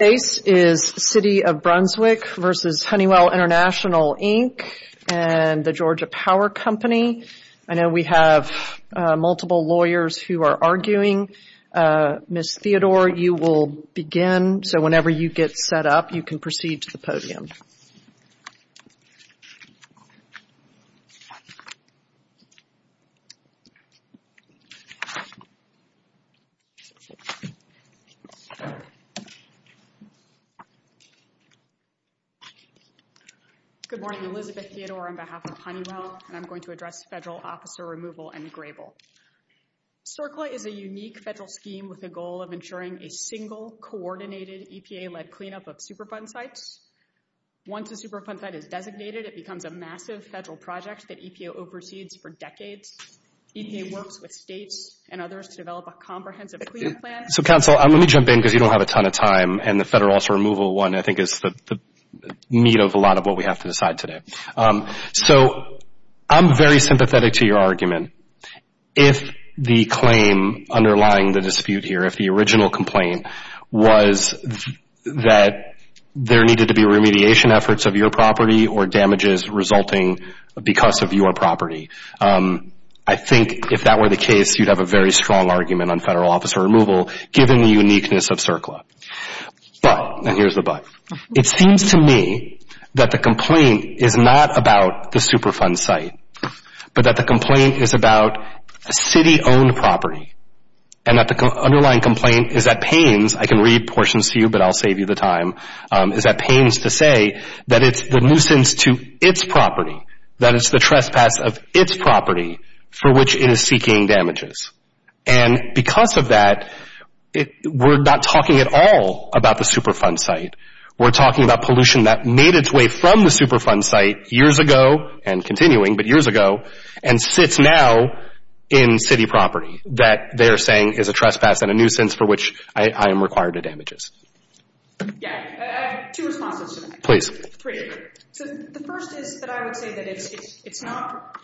City of Brunswick v. Honeywell International, Inc. and the Georgia Power Company. I know we have multiple lawyers who are arguing. Ms. Theodore, you will begin, so whenever you get set up, you can proceed to the podium. Good morning, Elizabeth Theodore on behalf of Honeywell, and I'm going to address Federal Officer Removal and Grable. CERCLA is a unique federal scheme with a goal of ensuring a single, coordinated EPA-led cleanup of Superfund sites. Once a Superfund site is designated, it becomes a massive federal project that EPA oversees for decades. EPA works with states and others to develop a comprehensive cleanup plan. So, counsel, let me jump in because you don't have a ton of time, and the Federal Officer Removal one, I think, is the meat of a lot of what we have to decide today. So, I'm very sympathetic to your argument. If the claim underlying the dispute here, if the original complaint was that there needed to be remediation efforts of your property or damages resulting because of your property, I think if that were the case, you'd have a very strong argument on Federal Officer Removal given the uniqueness of CERCLA. But, and here's the but, it seems to me that the complaint is not about the Superfund site, but that the complaint is about city-owned property, and that the underlying complaint is that pains, I can read portions to you, but I'll save you the time, is that pains to say that it's the nuisance to its property, that it's the trespass of its property for which it is seeking damages. And because of that, we're not talking at all about the Superfund site. We're talking about pollution that made its way from the Superfund site years ago, and continuing, but years ago, and sits now in city property that they're saying is a trespass and a nuisance for which I am required to damages. So the first is that I would say that it's not,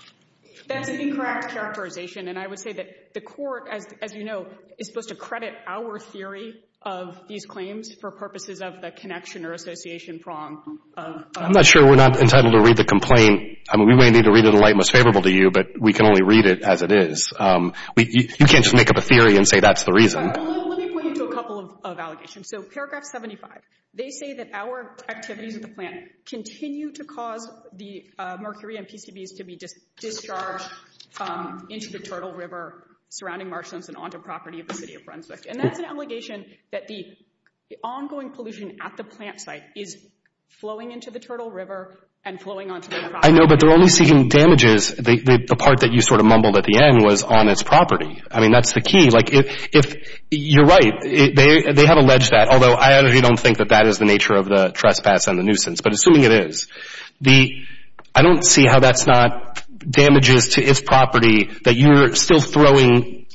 that's an incorrect characterization, and I would say that the Court, as you know, is supposed to credit our theory of these claims for purposes of the connection or association prong of I'm not sure we're not entitled to read the complaint. I mean, we may need to read it in a light most favorable to you, but we can only read it as it is. You can't just make up a theory and say that's the reason. Let me point you to a couple of allegations. So paragraph 75, they say that our activities at the plant continue to cause the mercury and PCBs to be discharged into the Turtle River, surrounding marshlands, and onto property of the City of Brunswick. And that's an allegation that the ongoing pollution at the plant site is flowing into the Turtle River and flowing onto the property. I know, but they're only seeking damages. The part that you sort of mumbled at the end was on its property. I mean, that's the key. You're right. They have alleged that, although I actually don't think that that is the nature of the trespass and the nuisance. But assuming it is, I don't see how that's not damages to its property that you're still throwing,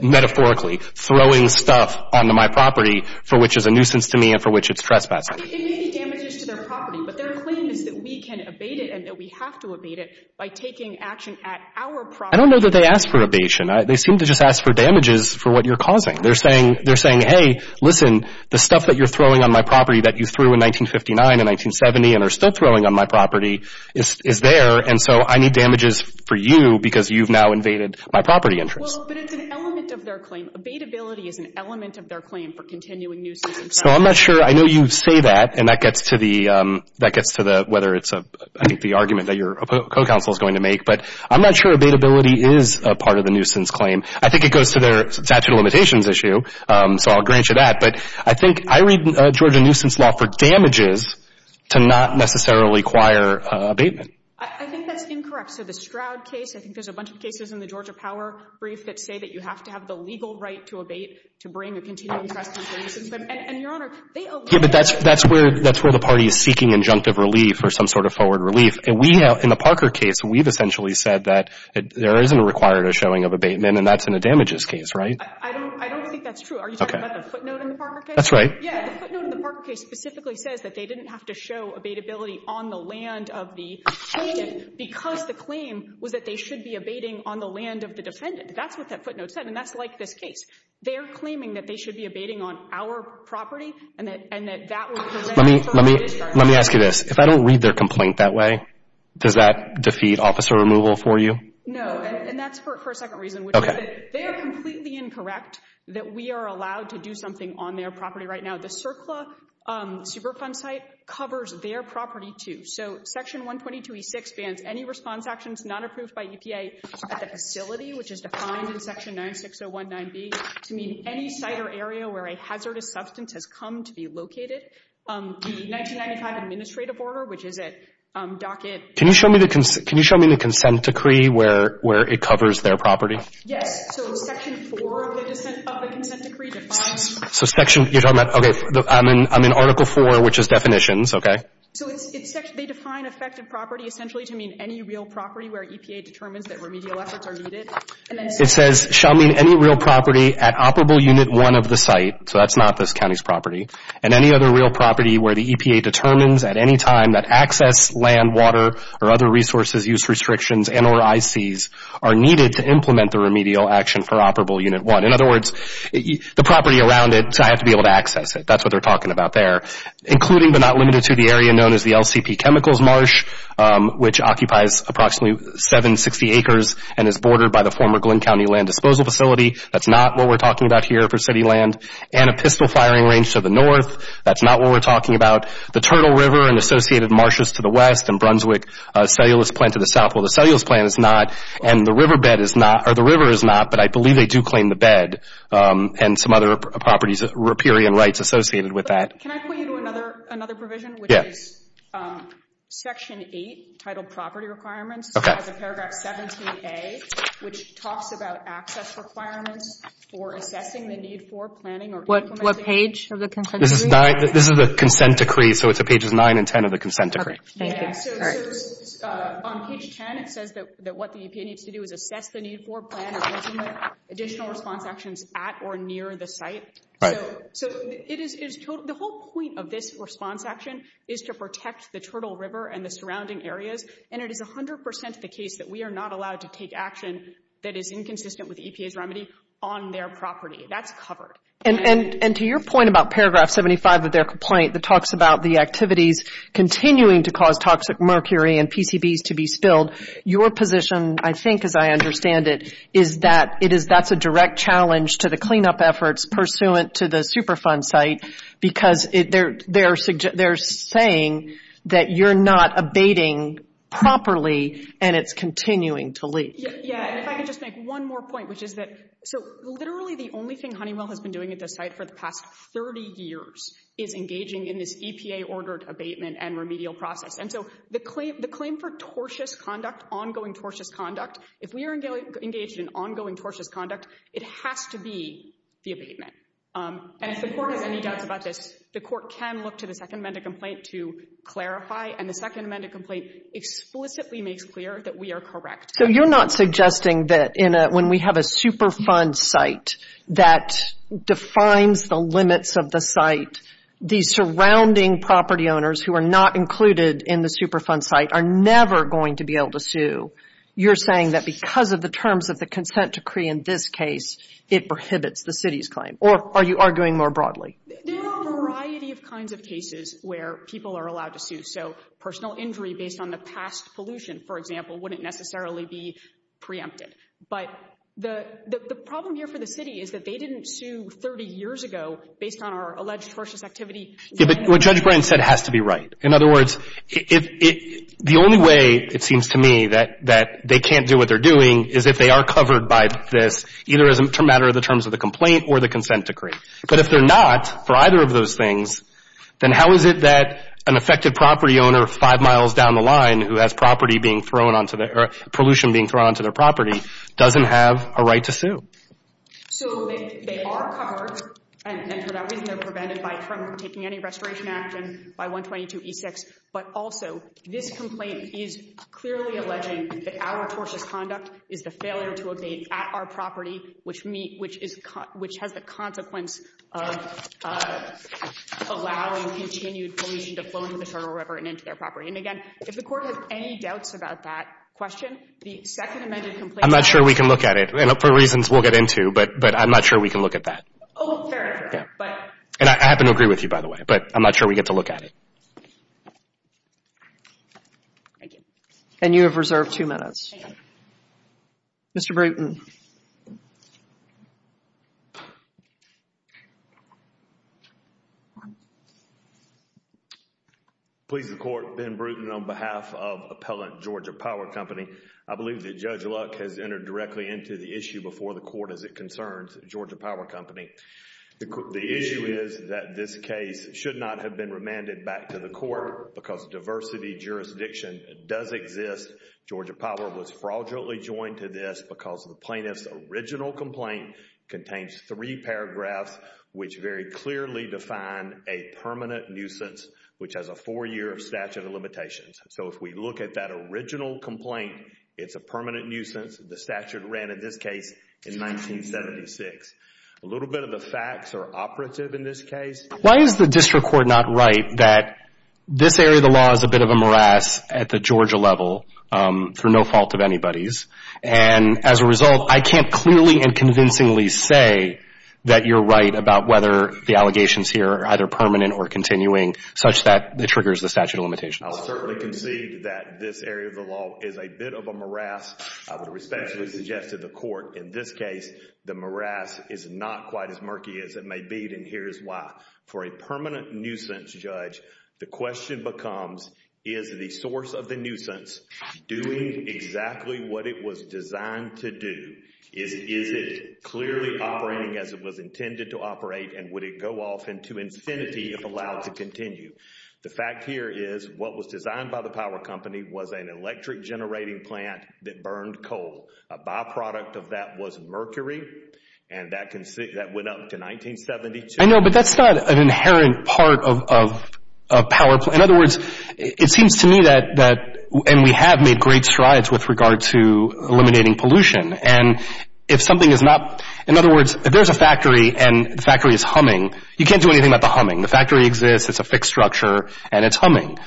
metaphorically, throwing stuff onto my property for which is a nuisance to me and for which it's trespassing. It may be damages to their property, but their claim is that we can abate it and that we have to abate it by taking action at our property. I don't know that they ask for abation. They seem to just ask for damages for what you're causing. They're saying, hey, listen, the stuff that you're throwing on my property that you threw in 1959 and 1970 and are still throwing on my property is there, and so I need damages for you because you've now invaded my property entrance. Well, but it's an element of their claim. Abatability is an element of their claim for continuing nuisance. So I'm not sure. I know you say that, and that gets to whether it's, I think, the argument that your co-counsel is going to make. But I'm not sure abatability is a part of the nuisance claim. I think it goes to their statute of limitations issue, so I'll grant you that. But I think I read Georgia nuisance law for damages to not necessarily require abatement. I think that's incorrect. So the Stroud case, I think there's a bunch of cases in the Georgia Power brief that say that you have to have the legal right to abate to bring a continuing trespasser to nuisance them. And, Your Honor, they allow that. Yeah, but that's where the party is seeking injunctive relief or some sort of forward relief. And we have, in the Parker case, we've essentially said that there isn't a required or showing of abatement, and that's in a damages case, right? I don't think that's true. Are you talking about the footnote in the Parker case? That's right. Yeah, the footnote in the Parker case specifically says that they didn't have to show abatability on the land of the defendant because the claim was that they should be abating on the land of the defendant. That's what that footnote said, and that's like this case. They're claiming that they should be abating on our property and that that would prevent Let me ask you this. If I don't read their complaint that way, does that defeat officer removal for you? No. And that's for a second reason. Okay. They are completely incorrect that we are allowed to do something on their property right now. The CERCLA Superfund site covers their property, too. So Section 122E6 bans any response actions not approved by EPA at the facility, which is defined in Section 96019B, to mean any site or area where a hazardous substance has come to be located. The 1995 administrative order, which is a docket Can you show me the consent decree where it covers their property? Yes. So Section 4 of the consent decree defines So Section, you're talking about, okay, I'm in Article 4, which is definitions. Okay. So they define effective property essentially to mean any real property where EPA determines that remedial efforts are needed. It says, shall mean any real property at Operable Unit 1 of the site. So that's not this county's property. And any other real property where the EPA determines at any time that access, land, water, or other resources use restrictions and or ICs are needed to implement the remedial action for Operable Unit 1. In other words, the property around it, I have to be able to access it. That's what they're talking about there. Including but not limited to the area known as the LCP Chemicals Marsh, which occupies approximately 760 acres and is bordered by the former Glynn County Land Disposal Facility. That's not what we're talking about here for city land. And a pistol firing range to the north. That's not what we're talking about. The Turtle River and associated marshes to the west and Brunswick cellulose plant to the south. Well, the cellulose plant is not, and the river bed is not, or the river is not, but I believe they do claim the bed and some other properties, riparian rights associated with that. Can I point you to another provision? Yes. Which is Section 8, titled Property Requirements. Okay. It has a paragraph 17A, which talks about access requirements for assessing the need for planning or implementing. What page of the consent decree? This is the consent decree, so it's pages 9 and 10 of the consent decree. Thank you. Great. So, on page 10, it says that what the EPA needs to do is assess the need for planning or implementing additional response actions at or near the site. Right. So, the whole point of this response action is to protect the Turtle River and the surrounding areas. And it is 100% the case that we are not allowed to take action that is inconsistent with the EPA's remedy on their property. That's covered. And to your point about paragraph 75 of their complaint, that talks about the activities continuing to cause toxic mercury and PCBs to be spilled, your position, I think, as I understand it, is that that's a direct challenge to the cleanup efforts pursuant to the Superfund site, because they're saying that you're not abating properly and it's continuing to leak. Yeah. And if I could just make one more point, which is that, so literally the only thing Honeywell has been doing at this site for the past 30 years is engaging in this EPA-ordered abatement and remedial process. And so the claim for tortuous conduct, ongoing tortuous conduct, if we are engaged in ongoing tortuous conduct, it has to be the abatement. And if the Court has any doubts about this, the Court can look to the Second Amendment complaint to clarify. And the Second Amendment complaint explicitly makes clear that we are correct. So you're not suggesting that when we have a Superfund site that defines the limits of the site, the surrounding property owners who are not included in the Superfund site are never going to be able to sue. You're saying that because of the terms of the consent decree in this case, it prohibits the city's claim. Or are you arguing more broadly? There are a variety of kinds of cases where people are allowed to sue. So personal injury based on the past pollution, for example, wouldn't necessarily be preempted. But the problem here for the city is that they didn't sue 30 years ago based on our alleged tortuous activity. Yeah, but what Judge Bryant said has to be right. In other words, the only way it seems to me that they can't do what they're doing is if they are covered by this either as a matter of the terms of the complaint or the consent decree. But if they're not for either of those things, then how is it that an affected property owner five miles down the line who has pollution being thrown onto their property doesn't have a right to sue? So they are covered, and for that reason they're prevented from taking any restoration action by 122E6. But also this complaint is clearly alleging that our tortious conduct is the failure to abate at our property, which has the consequence of allowing continued pollution to flow into the Charter River and into their property. And again, if the Court has any doubts about that question, the second amended complaint I'm not sure we can look at it. And for reasons we'll get into, but I'm not sure we can look at that. Oh, fair, fair. And I happen to agree with you, by the way. But I'm not sure we get to look at it. Thank you. And you have reserved two minutes. Thank you. Mr. Brewton. Please, the Court. Ben Brewton on behalf of Appellant Georgia Power Company. I believe that Judge Luck has entered directly into the issue before the Court as it concerns Georgia Power Company. The issue is that this case should not have been remanded back to the Court because diversity jurisdiction does exist. Georgia Power was fraudulently joined to this because the plaintiff's original complaint contains three paragraphs which very clearly define a permanent nuisance, which has a four-year statute of limitations. So if we look at that original complaint, it's a permanent nuisance. The statute ran in this case in 1976. A little bit of the facts are operative in this case. Why is the district court not right that this area of the law is a bit of a morass at the Georgia level through no fault of anybody's? And as a result, I can't clearly and convincingly say that you're right about whether the allegations here are either permanent or continuing such that it triggers the statute of limitations. I'll certainly concede that this area of the law is a bit of a morass. I would respectfully suggest to the Court in this case the morass is not quite as murky as it may be, and here's why. For a permanent nuisance judge, the question becomes, is the source of the nuisance doing exactly what it was designed to do? Is it clearly operating as it was intended to operate, and would it go off into infinity if allowed to continue? The fact here is what was designed by the power company was an electric generating plant that burned coal. A byproduct of that was mercury, and that went up to 1972. I know, but that's not an inherent part of power. In other words, it seems to me that, and we have made great strides with regard to eliminating pollution, and if something is not, in other words, if there's a factory and the factory is humming, you can't do anything about the humming. The factory exists, it's a fixed structure, and it's humming.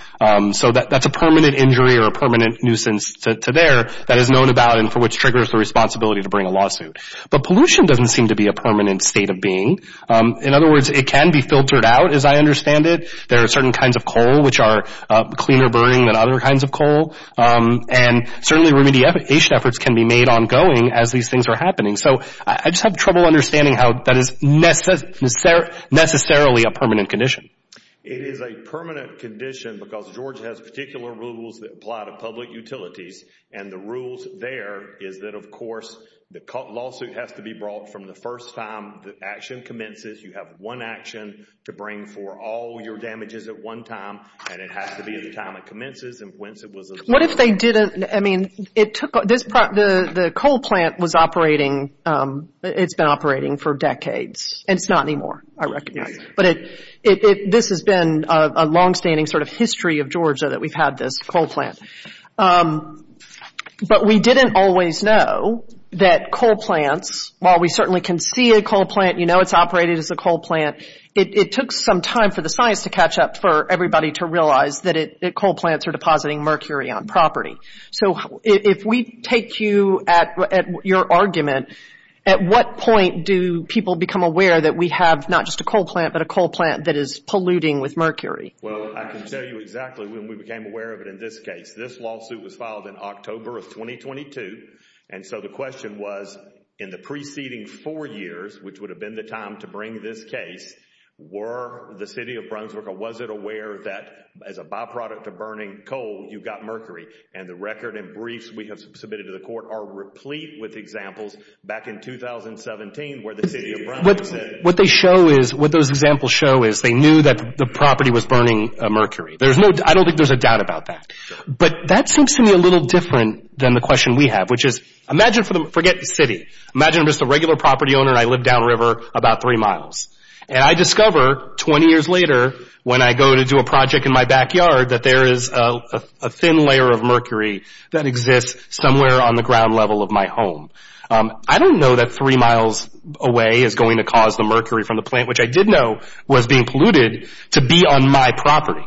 So that's a permanent injury or a permanent nuisance to there that is known about and for which triggers the responsibility to bring a lawsuit. But pollution doesn't seem to be a permanent state of being. In other words, it can be filtered out, as I understand it. There are certain kinds of coal which are cleaner burning than other kinds of coal, and certainly remediation efforts can be made ongoing as these things are happening. So I just have trouble understanding how that is necessarily a permanent condition. It is a permanent condition because Georgia has particular rules that apply to public utilities, and the rules there is that, of course, the lawsuit has to be brought from the first time the action commences. You have one action to bring for all your damages at one time, and it has to be at the time it commences and whence it was observed. What if they didn't, I mean, the coal plant was operating, it's been operating for decades. It's not anymore, I recognize. But this has been a longstanding sort of history of Georgia that we've had this coal plant. But we didn't always know that coal plants, while we certainly can see a coal plant, you know it's operated as a coal plant, it took some time for the science to catch up for everybody to realize that coal plants are depositing mercury on property. So if we take you at your argument, at what point do people become aware that we have not just a coal plant, but a coal plant that is polluting with mercury? Well, I can tell you exactly when we became aware of it in this case. This lawsuit was filed in October of 2022, and so the question was in the preceding four years, which would have been the time to bring this case, were the City of Brunswick or was it aware that as a byproduct of burning coal, you got mercury? And the record and briefs we have submitted to the court are replete with examples back in 2017 where the City of Brunswick said. What they show is, what those examples show is, they knew that the property was burning mercury. I don't think there's a doubt about that. But that seems to me a little different than the question we have, which is, imagine, forget the city, imagine I'm just a regular property owner and I live downriver about three miles. And I discover 20 years later when I go to do a project in my backyard that there is a thin layer of mercury that exists somewhere on the ground level of my home. I don't know that three miles away is going to cause the mercury from the plant, which I did know was being polluted, to be on my property.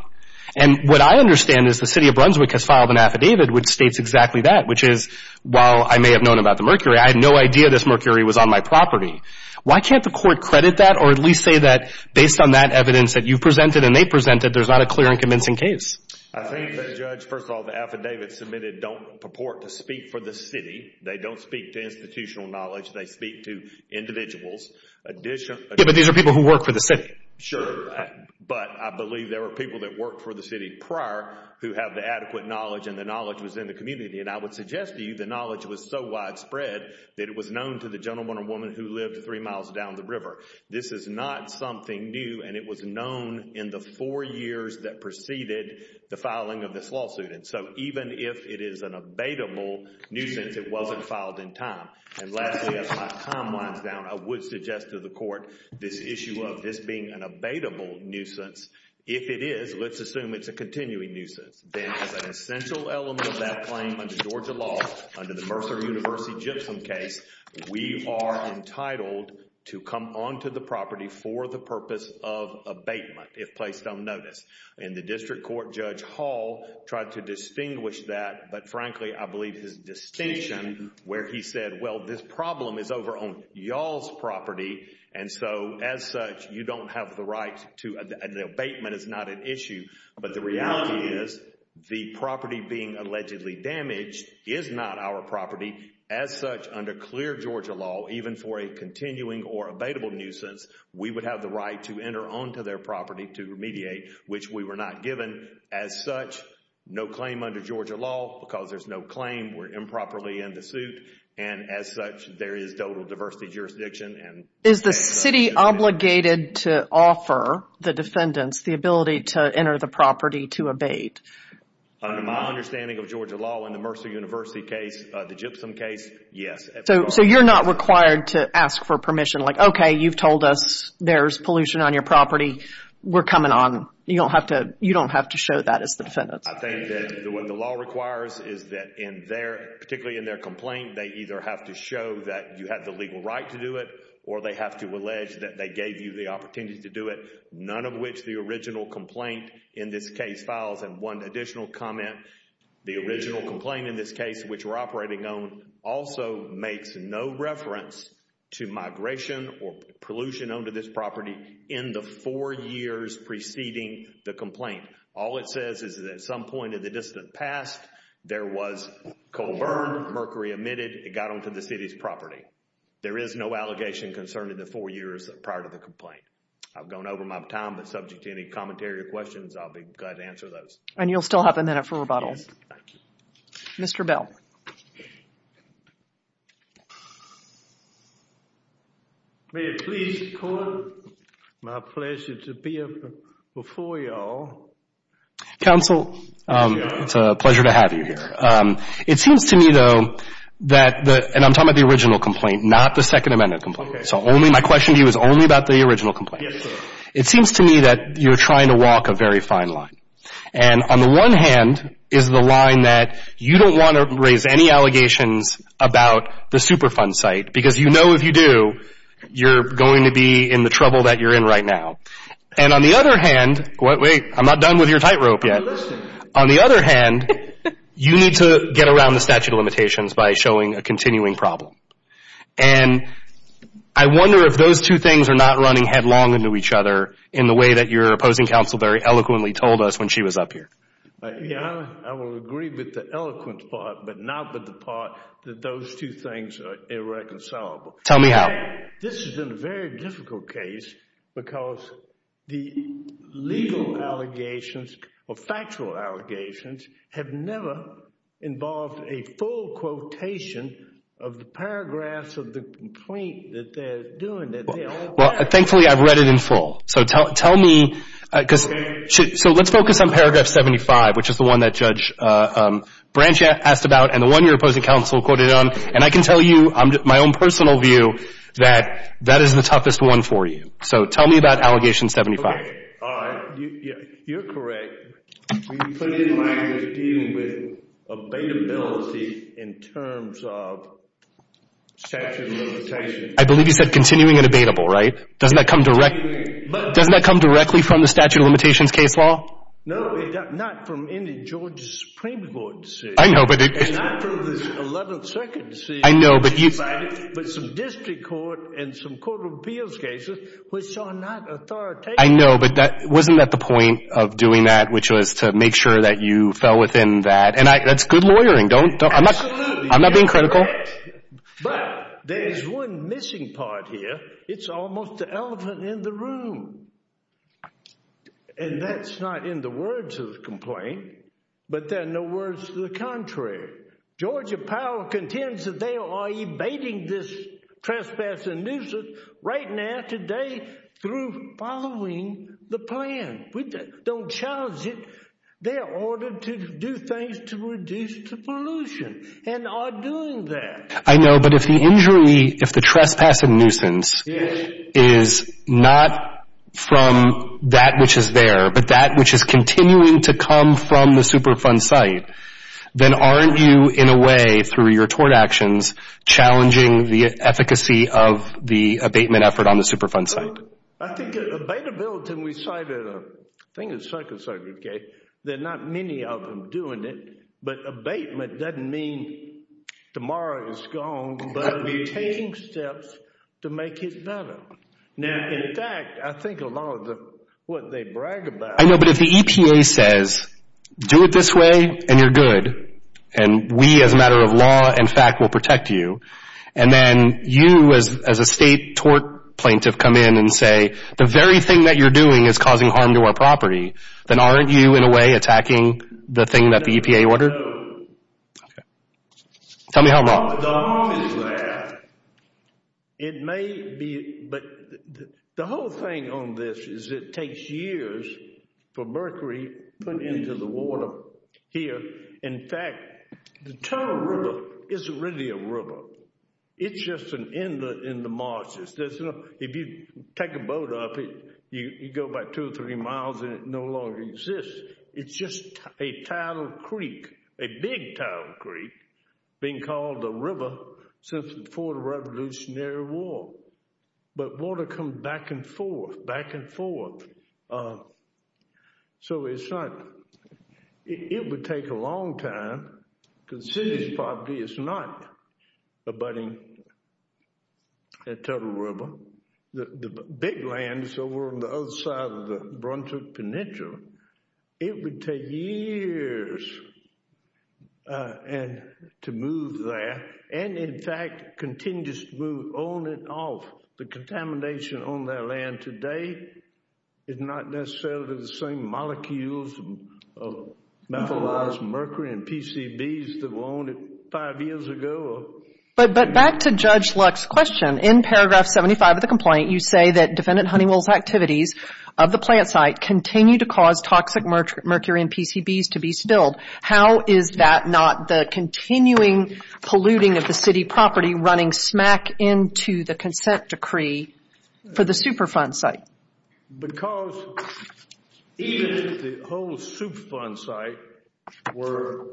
And what I understand is the City of Brunswick has filed an affidavit which states exactly that, which is, while I may have known about the mercury, I had no idea this mercury was on my property. Why can't the court credit that or at least say that, based on that evidence that you presented and they presented, there's not a clear and convincing case? I think, Judge, first of all, the affidavits submitted don't purport to speak for the city. They don't speak to institutional knowledge. They speak to individuals. Yeah, but these are people who work for the city. Sure. But I believe there were people that worked for the city prior who have the adequate knowledge and the knowledge was in the community. And I would suggest to you the knowledge was so widespread that it was known to the gentleman or woman who lived three miles down the river. This is not something new, and it was known in the four years that preceded the filing of this lawsuit. And so even if it is an abatable nuisance, it wasn't filed in time. And lastly, as my time winds down, I would suggest to the court this issue of this being an abatable nuisance. If it is, let's assume it's a continuing nuisance. Then as an essential element of that claim under Georgia law, under the Mercer University-Gypsum case, we are entitled to come onto the property for the purpose of abatement if placed on notice. In the district court, Judge Hall tried to distinguish that, but frankly, I believe his distinction where he said, well, this problem is over on y'all's property. And so as such, you don't have the right to—the abatement is not an issue. But the reality is the property being allegedly damaged is not our property. As such, under clear Georgia law, even for a continuing or abatable nuisance, we would have the right to enter onto their property to remediate, which we were not given. As such, no claim under Georgia law because there's no claim. We're improperly in the suit. And as such, there is total diversity jurisdiction and— Is the city obligated to offer the defendants the ability to enter the property to abate? Under my understanding of Georgia law, in the Mercer University case, the Gypsum case, yes. So you're not required to ask for permission like, okay, you've told us there's pollution on your property. We're coming on. You don't have to show that as the defendants. I think that what the law requires is that in their—particularly in their complaint, they either have to show that you have the legal right to do it or they have to allege that they gave you the opportunity to do it. None of which the original complaint in this case files and one additional comment. The original complaint in this case, which we're operating on, also makes no reference to migration or pollution onto this property in the four years preceding the complaint. All it says is that at some point in the distant past, there was coal burned, mercury emitted, it got onto the city's property. There is no allegation concerning the four years prior to the complaint. I've gone over my time, but subject to any commentary or questions, I'll be glad to answer those. And you'll still have a minute for rebuttals. Thank you. Mr. Bell. May it please the Court, my pleasure to be before you all. Counsel, it's a pleasure to have you here. It seems to me, though, that the—and I'm talking about the original complaint, not the Second Amendment complaint. Okay. So my question to you is only about the original complaint. Yes, sir. It seems to me that you're trying to walk a very fine line. And on the one hand is the line that you don't want to raise any allegations about the Superfund site, because you know if you do, you're going to be in the trouble that you're in right now. And on the other hand—wait, I'm not done with your tightrope yet. On the other hand, you need to get around the statute of limitations by showing a continuing problem. And I wonder if those two things are not running headlong into each other in the way that your opposing counsel very eloquently told us when she was up here. I will agree with the eloquent part, but not with the part that those two things are irreconcilable. Tell me how. This has been a very difficult case because the legal allegations or factual allegations have never involved a full quotation of the paragraphs of the complaint that they're doing. Well, thankfully I've read it in full. So tell me—so let's focus on paragraph 75, which is the one that Judge Branch asked about and the one your opposing counsel quoted on. And I can tell you my own personal view that that is the toughest one for you. So tell me about allegation 75. Okay. All right. You're correct. We put in language dealing with abatability in terms of statute of limitations. I believe you said continuing and abatable, right? Doesn't that come directly from the statute of limitations case law? No, not from any Georgia Supreme Court decision. I know, but it— And not from this 11th Circuit decision. I know, but you— But some district court and some court of appeals cases which are not authoritative. I know, but wasn't that the point of doing that, which was to make sure that you fell within that? And that's good lawyering. Don't— Absolutely. I'm not being critical. You're correct. But there is one missing part here. It's almost the elephant in the room. And that's not in the words of the complaint, but there are no words to the contrary. Georgia Power contends that they are evading this trespass and nuisance right now, today, through following the plan. We don't challenge it. They are ordered to do things to reduce the pollution and are doing that. I know, but if the injury, if the trespass and nuisance is not from that which is there, but that which is continuing to come from the Superfund site, then aren't you, in a way, through your tort actions, challenging the efficacy of the abatement effort on the Superfund site? I think abatability, and we cited a thing in the 2nd Circuit case, there are not many of them doing it, but abatement doesn't mean tomorrow is gone, but obtaining steps to make it better. Now, in fact, I think a lot of what they brag about— I know, but if the EPA says, do it this way and you're good, and we, as a matter of law and fact, will protect you, and then you, as a state tort plaintiff, come in and say, the very thing that you're doing is causing harm to our property, then aren't you, in a way, attacking the thing that the EPA ordered? No. Tell me how wrong. How wrong is that? It may be, but the whole thing on this is it takes years for mercury put into the water here. In fact, the Turner River isn't really a river. It's just an end in the marshes. If you take a boat up it, you go about two or three miles and it no longer exists. It's just a tidal creek, a big tidal creek, being called a river since before the Revolutionary War. But water comes back and forth, back and forth. So it's not—it would take a long time, because this property is not abutting the Turner River. The big land is over on the other side of the Bruntook Peninsula. It would take years to move there and, in fact, continues to move on and off. The contamination on that land today is not necessarily the same molecules of methylized mercury and PCBs that were on it five years ago. But back to Judge Luck's question. In paragraph 75 of the complaint, you say that defendant Honeywell's activities of the plant site continue to cause toxic mercury and PCBs to be spilled. How is that not the continuing polluting of the city property running smack into the consent decree for the Superfund site? Because even if the whole Superfund site were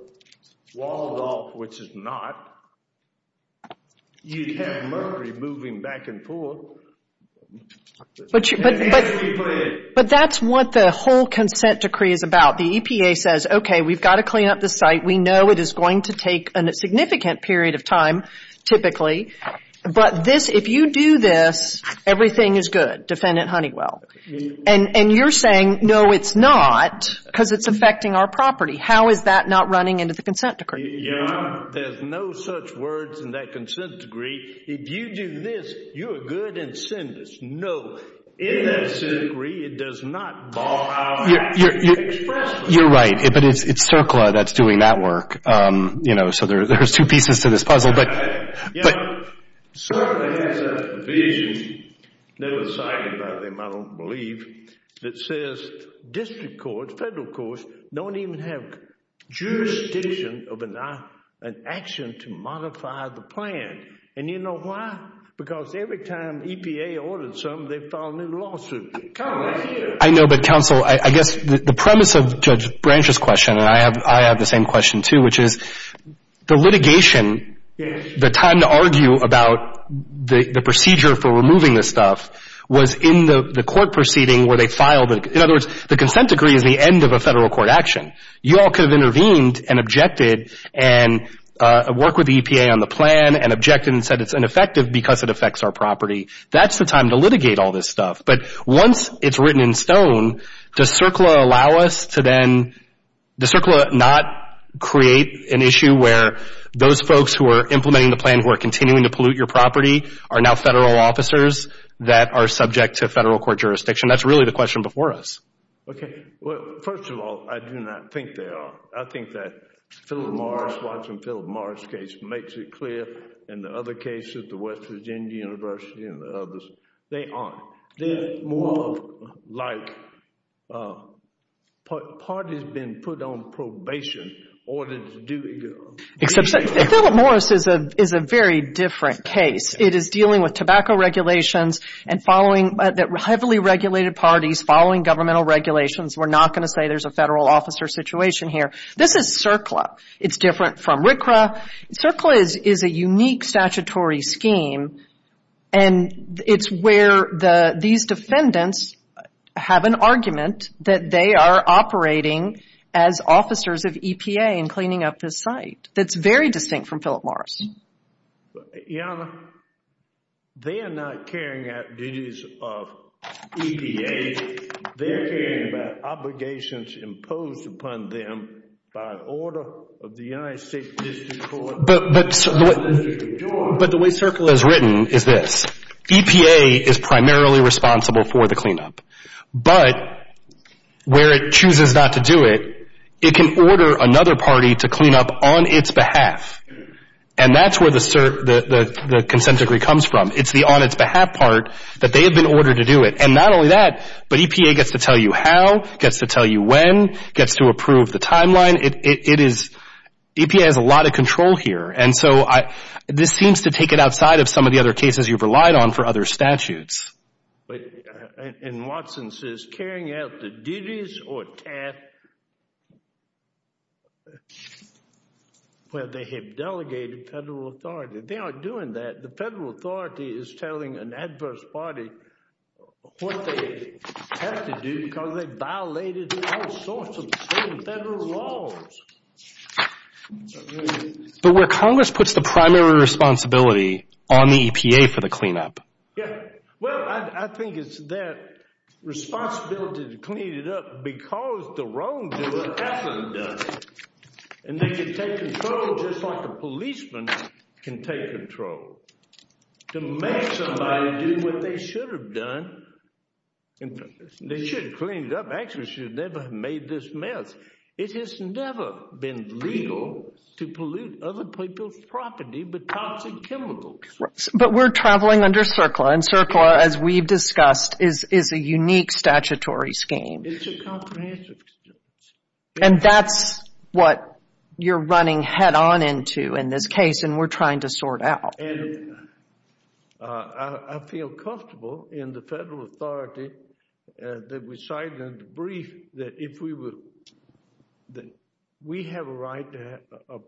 walled off, which it's not, you'd have mercury moving back and forth. But that's what the whole consent decree is about. The EPA says, okay, we've got to clean up the site. We know it is going to take a significant period of time, typically. But if you do this, everything is good, defendant Honeywell. And you're saying, no, it's not, because it's affecting our property. How is that not running into the consent decree? There's no such words in that consent decree. If you do this, you're a good incendious. No, in that consent decree, it does not ball out expressly. You're right, but it's CERCLA that's doing that work. So there's two pieces to this puzzle. CERCLA has a vision that was cited by them, I don't believe, that says district courts, federal courts, don't even have jurisdiction of an action to modify the plan. And you know why? Because every time EPA orders something, they file a new lawsuit. I know, but counsel, I guess the premise of Judge Branch's question, and I have the same question too, which is the litigation. The time to argue about the procedure for removing this stuff was in the court proceeding where they filed it. In other words, the consent decree is the end of a federal court action. You all could have intervened and objected and worked with EPA on the plan and objected and said it's ineffective because it affects our property. That's the time to litigate all this stuff. But once it's written in stone, does CERCLA allow us to then, does CERCLA not create an issue where those folks who are implementing the plan who are continuing to pollute your property are now federal officers that are subject to federal court jurisdiction? That's really the question before us. Okay. Well, first of all, I do not think they are. I think that Philip Morris, watching Philip Morris' case, makes it clear. In the other cases, the West Virginia University and the others, they aren't. They're more like parties being put on probation in order to do it. Except Philip Morris is a very different case. It is dealing with tobacco regulations and heavily regulated parties following governmental regulations. We're not going to say there's a federal officer situation here. This is CERCLA. It's different from RCRA. CERCLA is a unique statutory scheme, and it's where these defendants have an argument that they are operating as officers of EPA and cleaning up this site. That's very distinct from Philip Morris. Your Honor, they are not carrying out duties of EPA. They're carrying out obligations imposed upon them by order of the United States District Court. But the way CERCLA is written is this. EPA is primarily responsible for the cleanup. But where it chooses not to do it, it can order another party to clean up on its behalf. And that's where the consent decree comes from. It's the on its behalf part that they have been ordered to do it. And not only that, but EPA gets to tell you how, gets to tell you when, gets to approve the timeline. EPA has a lot of control here. And so this seems to take it outside of some of the other cases you've relied on for other statutes. And Watson says carrying out the duties or tasks where they have delegated federal authority. They aren't doing that. The federal authority is telling an adverse party what they have to do because they violated all sorts of federal laws. But where Congress puts the primary responsibility on the EPA for the cleanup. Well, I think it's their responsibility to clean it up because the wrongdoer hasn't done it. And they can take control just like a policeman can take control. To make somebody do what they should have done. They should have cleaned it up. Actually, they should have never made this mess. It has never been legal to pollute other people's property with toxic chemicals. But we're traveling under CERCLA, and CERCLA, as we've discussed, is a unique statutory scheme. It's a comprehensive scheme. And that's what you're running head-on into in this case, and we're trying to sort out. And I feel comfortable in the federal authority that we cited in the brief that if we were, that we have a right to have,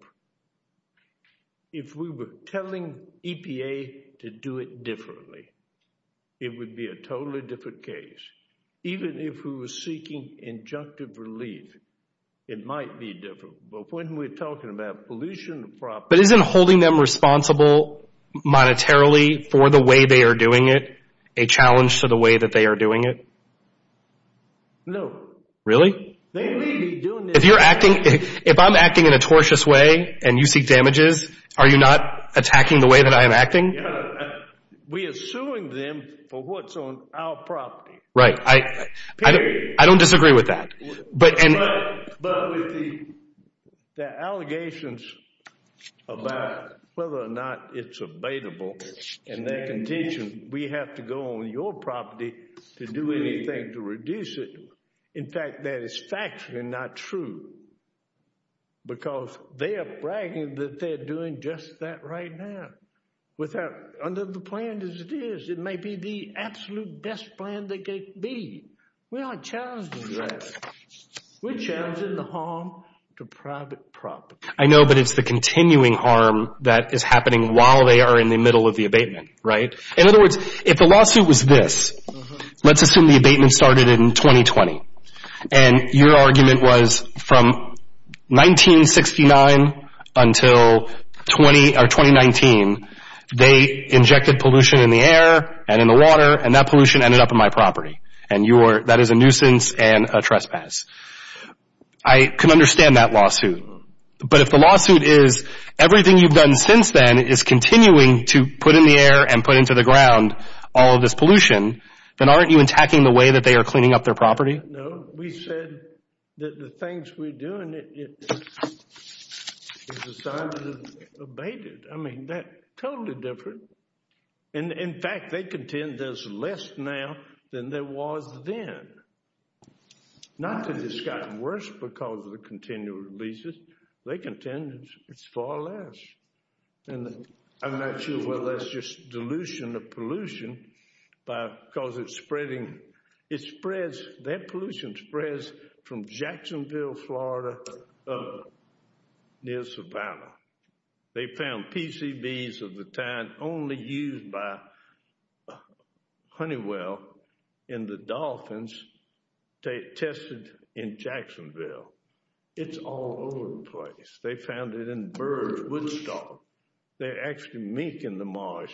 if we were telling EPA to do it differently, it would be a totally different case. Even if we were seeking injunctive relief, it might be different. But when we're talking about pollution of property. But isn't holding them responsible monetarily for the way they are doing it a challenge to the way that they are doing it? No. Really? They may be doing it. If you're acting, if I'm acting in a tortious way and you seek damages, are you not attacking the way that I am acting? We are suing them for what's on our property. Right. I don't disagree with that. But with the allegations about whether or not it's abatable and their contention, we have to go on your property to do anything to reduce it. In fact, that is factually not true. Because they are bragging that they're doing just that right now. Under the plan as it is, it may be the absolute best plan that could be. We aren't challenging that. We're challenging the harm to private property. I know, but it's the continuing harm that is happening while they are in the middle of the abatement, right? In other words, if the lawsuit was this, let's assume the abatement started in 2020. And your argument was from 1969 until 2019, they injected pollution in the air and in the water and that pollution ended up in my property. And that is a nuisance and a trespass. I can understand that lawsuit. But if the lawsuit is everything you've done since then is continuing to put in the air and put into the ground all of this pollution, then aren't you attacking the way that they are cleaning up their property? No. We said that the things we're doing is a sign of abatement. I mean, that's totally different. In fact, they contend there's less now than there was then. Not that it's gotten worse because of the continual releases. They contend it's far less. And I'm not sure whether that's just dilution of pollution because it's spreading. It spreads. That pollution spreads from Jacksonville, Florida up near Savannah. They found PCBs of the time only used by Honeywell in the dolphins tested in Jacksonville. It's all over the place. They found it in birds, Woodstock. They're actually making the marsh.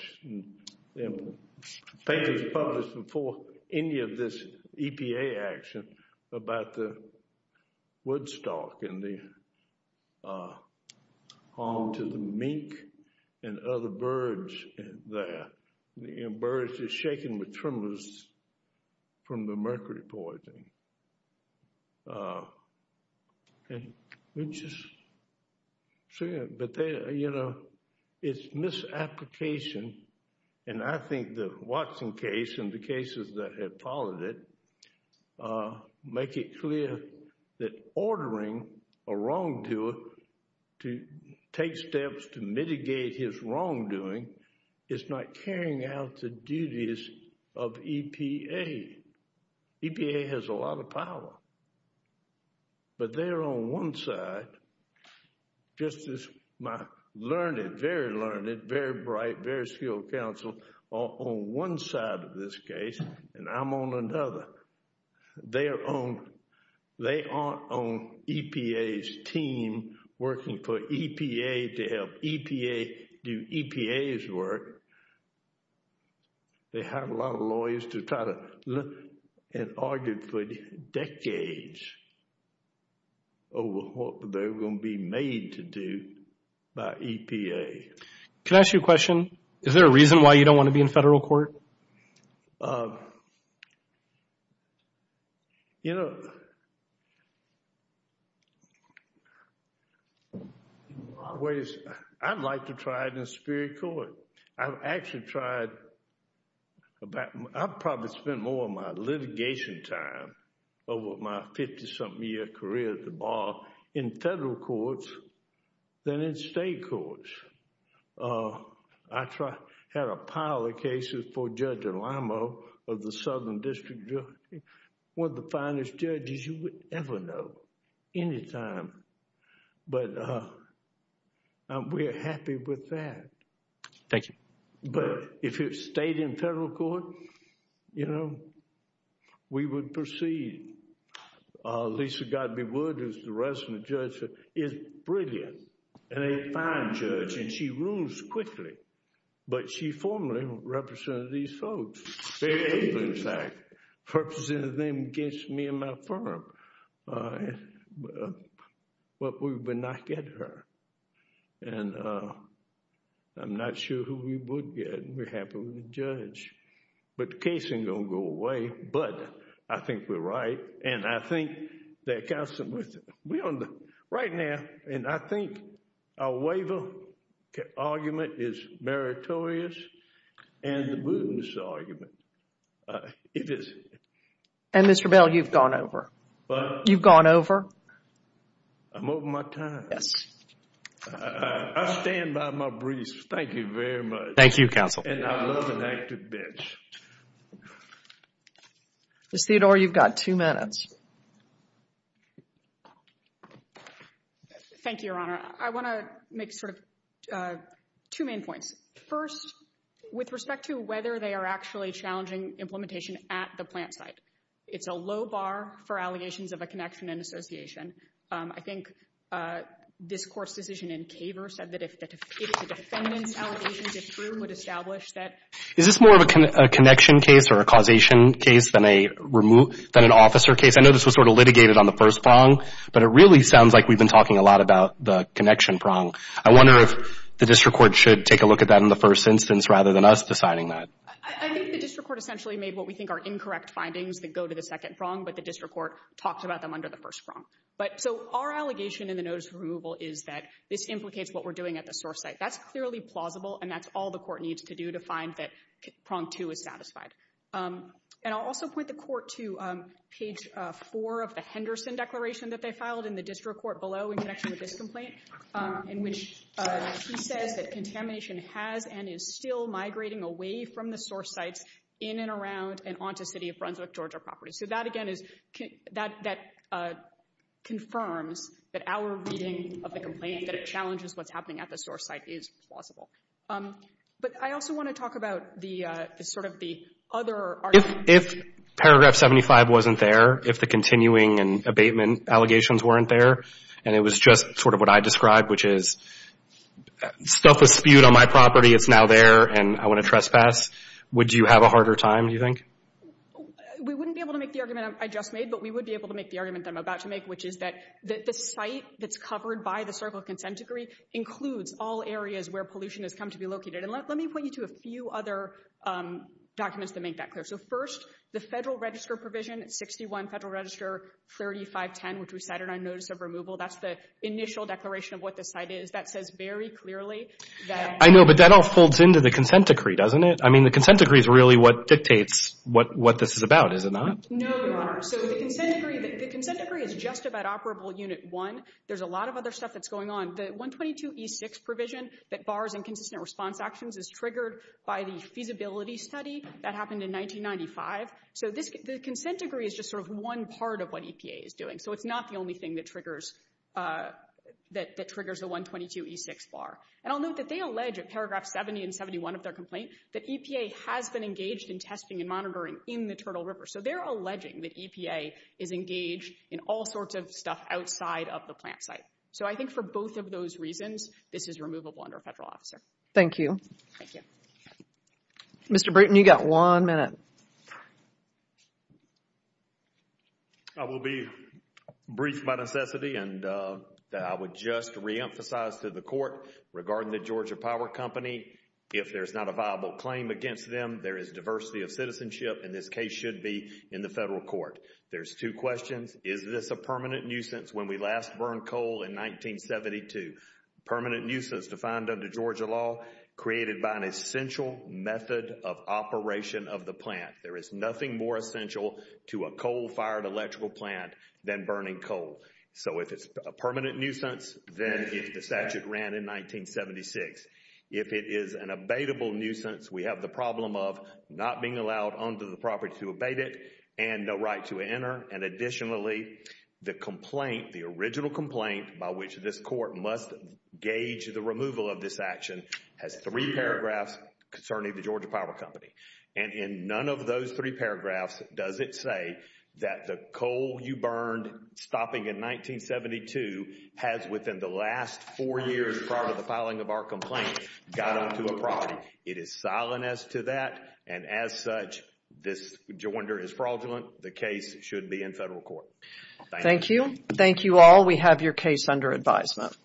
The paper was published before any of this EPA action about the Woodstock and the harm to the mink and other birds there. Birds are shaken with tremors from the mercury poisoning. It's misapplication. And I think the Watson case and the cases that have followed it make it clear that ordering a wrongdoer to take steps to mitigate his wrongdoing is not carrying out the duties of EPA. EPA has a lot of power. But they're on one side, just as my learned, very learned, very bright, very skilled counsel are on one side of this case and I'm on another. They aren't on EPA's team working for EPA to help EPA do EPA's work. They have a lot of lawyers that have argued for decades over what they're going to be made to do by EPA. Can I ask you a question? Is there a reason why you don't want to be in federal court? You know, I'd like to try it in a superior court. I've actually tried, I've probably spent more of my litigation time over my 50-something year career at the bar in federal courts than in state courts. I tried, had a pile of cases for Judge Delamo of the Southern District Jury, one of the finest judges you would ever know, anytime. But we're happy with that. Thank you. But if it stayed in federal court, you know, we would proceed. Lisa Godbey Wood, who's the resident judge, is brilliant and a fine judge and she rules quickly. But she formerly represented these folks. They represented them against me and my firm. But we would not get her. And I'm not sure who we would get. We're happy with the judge. But the case ain't going to go away. But I think we're right. And I think that counsel, we're on the, right now, and I think our waiver argument is meritorious. And the Booten's argument, it is. And Mr. Bell, you've gone over. What? You've gone over. I'm over my time. Yes. I stand by my briefs. Thank you very much. Thank you, counsel. And I love an active bench. Ms. Theodore, you've got two minutes. Thank you, Your Honor. I want to make sort of two main points. First, with respect to whether they are actually challenging implementation at the plant site. It's a low bar for allegations of a connection and association. I think this court's decision in Kaver said that if the defendant's allegations are true, it would establish that. Is this more of a connection case or a causation case than an officer case? I know this was sort of litigated on the first prong. But it really sounds like we've been talking a lot about the connection prong. I wonder if the district court should take a look at that in the first instance rather than us deciding that. I think the district court essentially made what we think are incorrect findings that go to the second prong. But the district court talked about them under the first prong. So our allegation in the notice of removal is that this implicates what we're doing at the source site. That's clearly plausible. And that's all the court needs to do to find that prong two is satisfied. And I'll also point the court to page four of the Henderson declaration that they filed in the district court below in connection with this complaint. In which she says that contamination has and is still migrating away from the source sites in and around and onto city of Brunswick, Georgia property. So that, again, confirms that our reading of the complaint that it challenges what's happening at the source site is plausible. But I also want to talk about sort of the other argument. If paragraph 75 wasn't there, if the continuing and abatement allegations weren't there, and it was just sort of what I described, which is stuff was spewed on my property. It's now there and I want to trespass. Would you have a harder time, do you think? We wouldn't be able to make the argument I just made. But we would be able to make the argument I'm about to make. Which is that the site that's covered by the Circle of Consent decree includes all areas where pollution has come to be located. And let me point you to a few other documents that make that clear. So first, the Federal Register provision at 61 Federal Register 3510, which we cited on notice of removal. That's the initial declaration of what the site is. That says very clearly that... I know, but that all folds into the consent decree, doesn't it? I mean, the consent decree is really what dictates what this is about, is it not? No, Your Honor. So the consent decree is just about Operable Unit 1. There's a lot of other stuff that's going on. The 122e6 provision that bars inconsistent response actions is triggered by the feasibility study that happened in 1995. So the consent decree is just sort of one part of what EPA is doing. So it's not the only thing that triggers the 122e6 bar. And I'll note that they allege at paragraph 70 and 71 of their complaint that EPA has been engaged in testing and monitoring in the Turtle River. So they're alleging that EPA is engaged in all sorts of stuff outside of the plant site. So I think for both of those reasons, this is removable under a federal officer. Thank you. Thank you. Mr. Bruton, you've got one minute. I will be brief by necessity and I would just reemphasize to the court regarding the Georgia Power Company. If there's not a viable claim against them, there is diversity of citizenship, and this case should be in the federal court. There's two questions. Is this a permanent nuisance when we last burned coal in 1972? Permanent nuisance defined under Georgia law created by an essential method of operation of the plant. There is nothing more essential to a coal-fired electrical plant than burning coal. So if it's a permanent nuisance, then the statute ran in 1976. If it is an abatable nuisance, we have the problem of not being allowed under the property to abate it and no right to enter. And additionally, the complaint, the original complaint by which this court must gauge the removal of this action has three paragraphs concerning the Georgia Power Company. And in none of those three paragraphs does it say that the coal you burned stopping in 1972 has within the last four years prior to the filing of our complaint got onto a property. It is silent as to that, and as such, this joinder is fraudulent. The case should be in federal court. Thank you. Thank you all. We have your case under advisement. Thank you.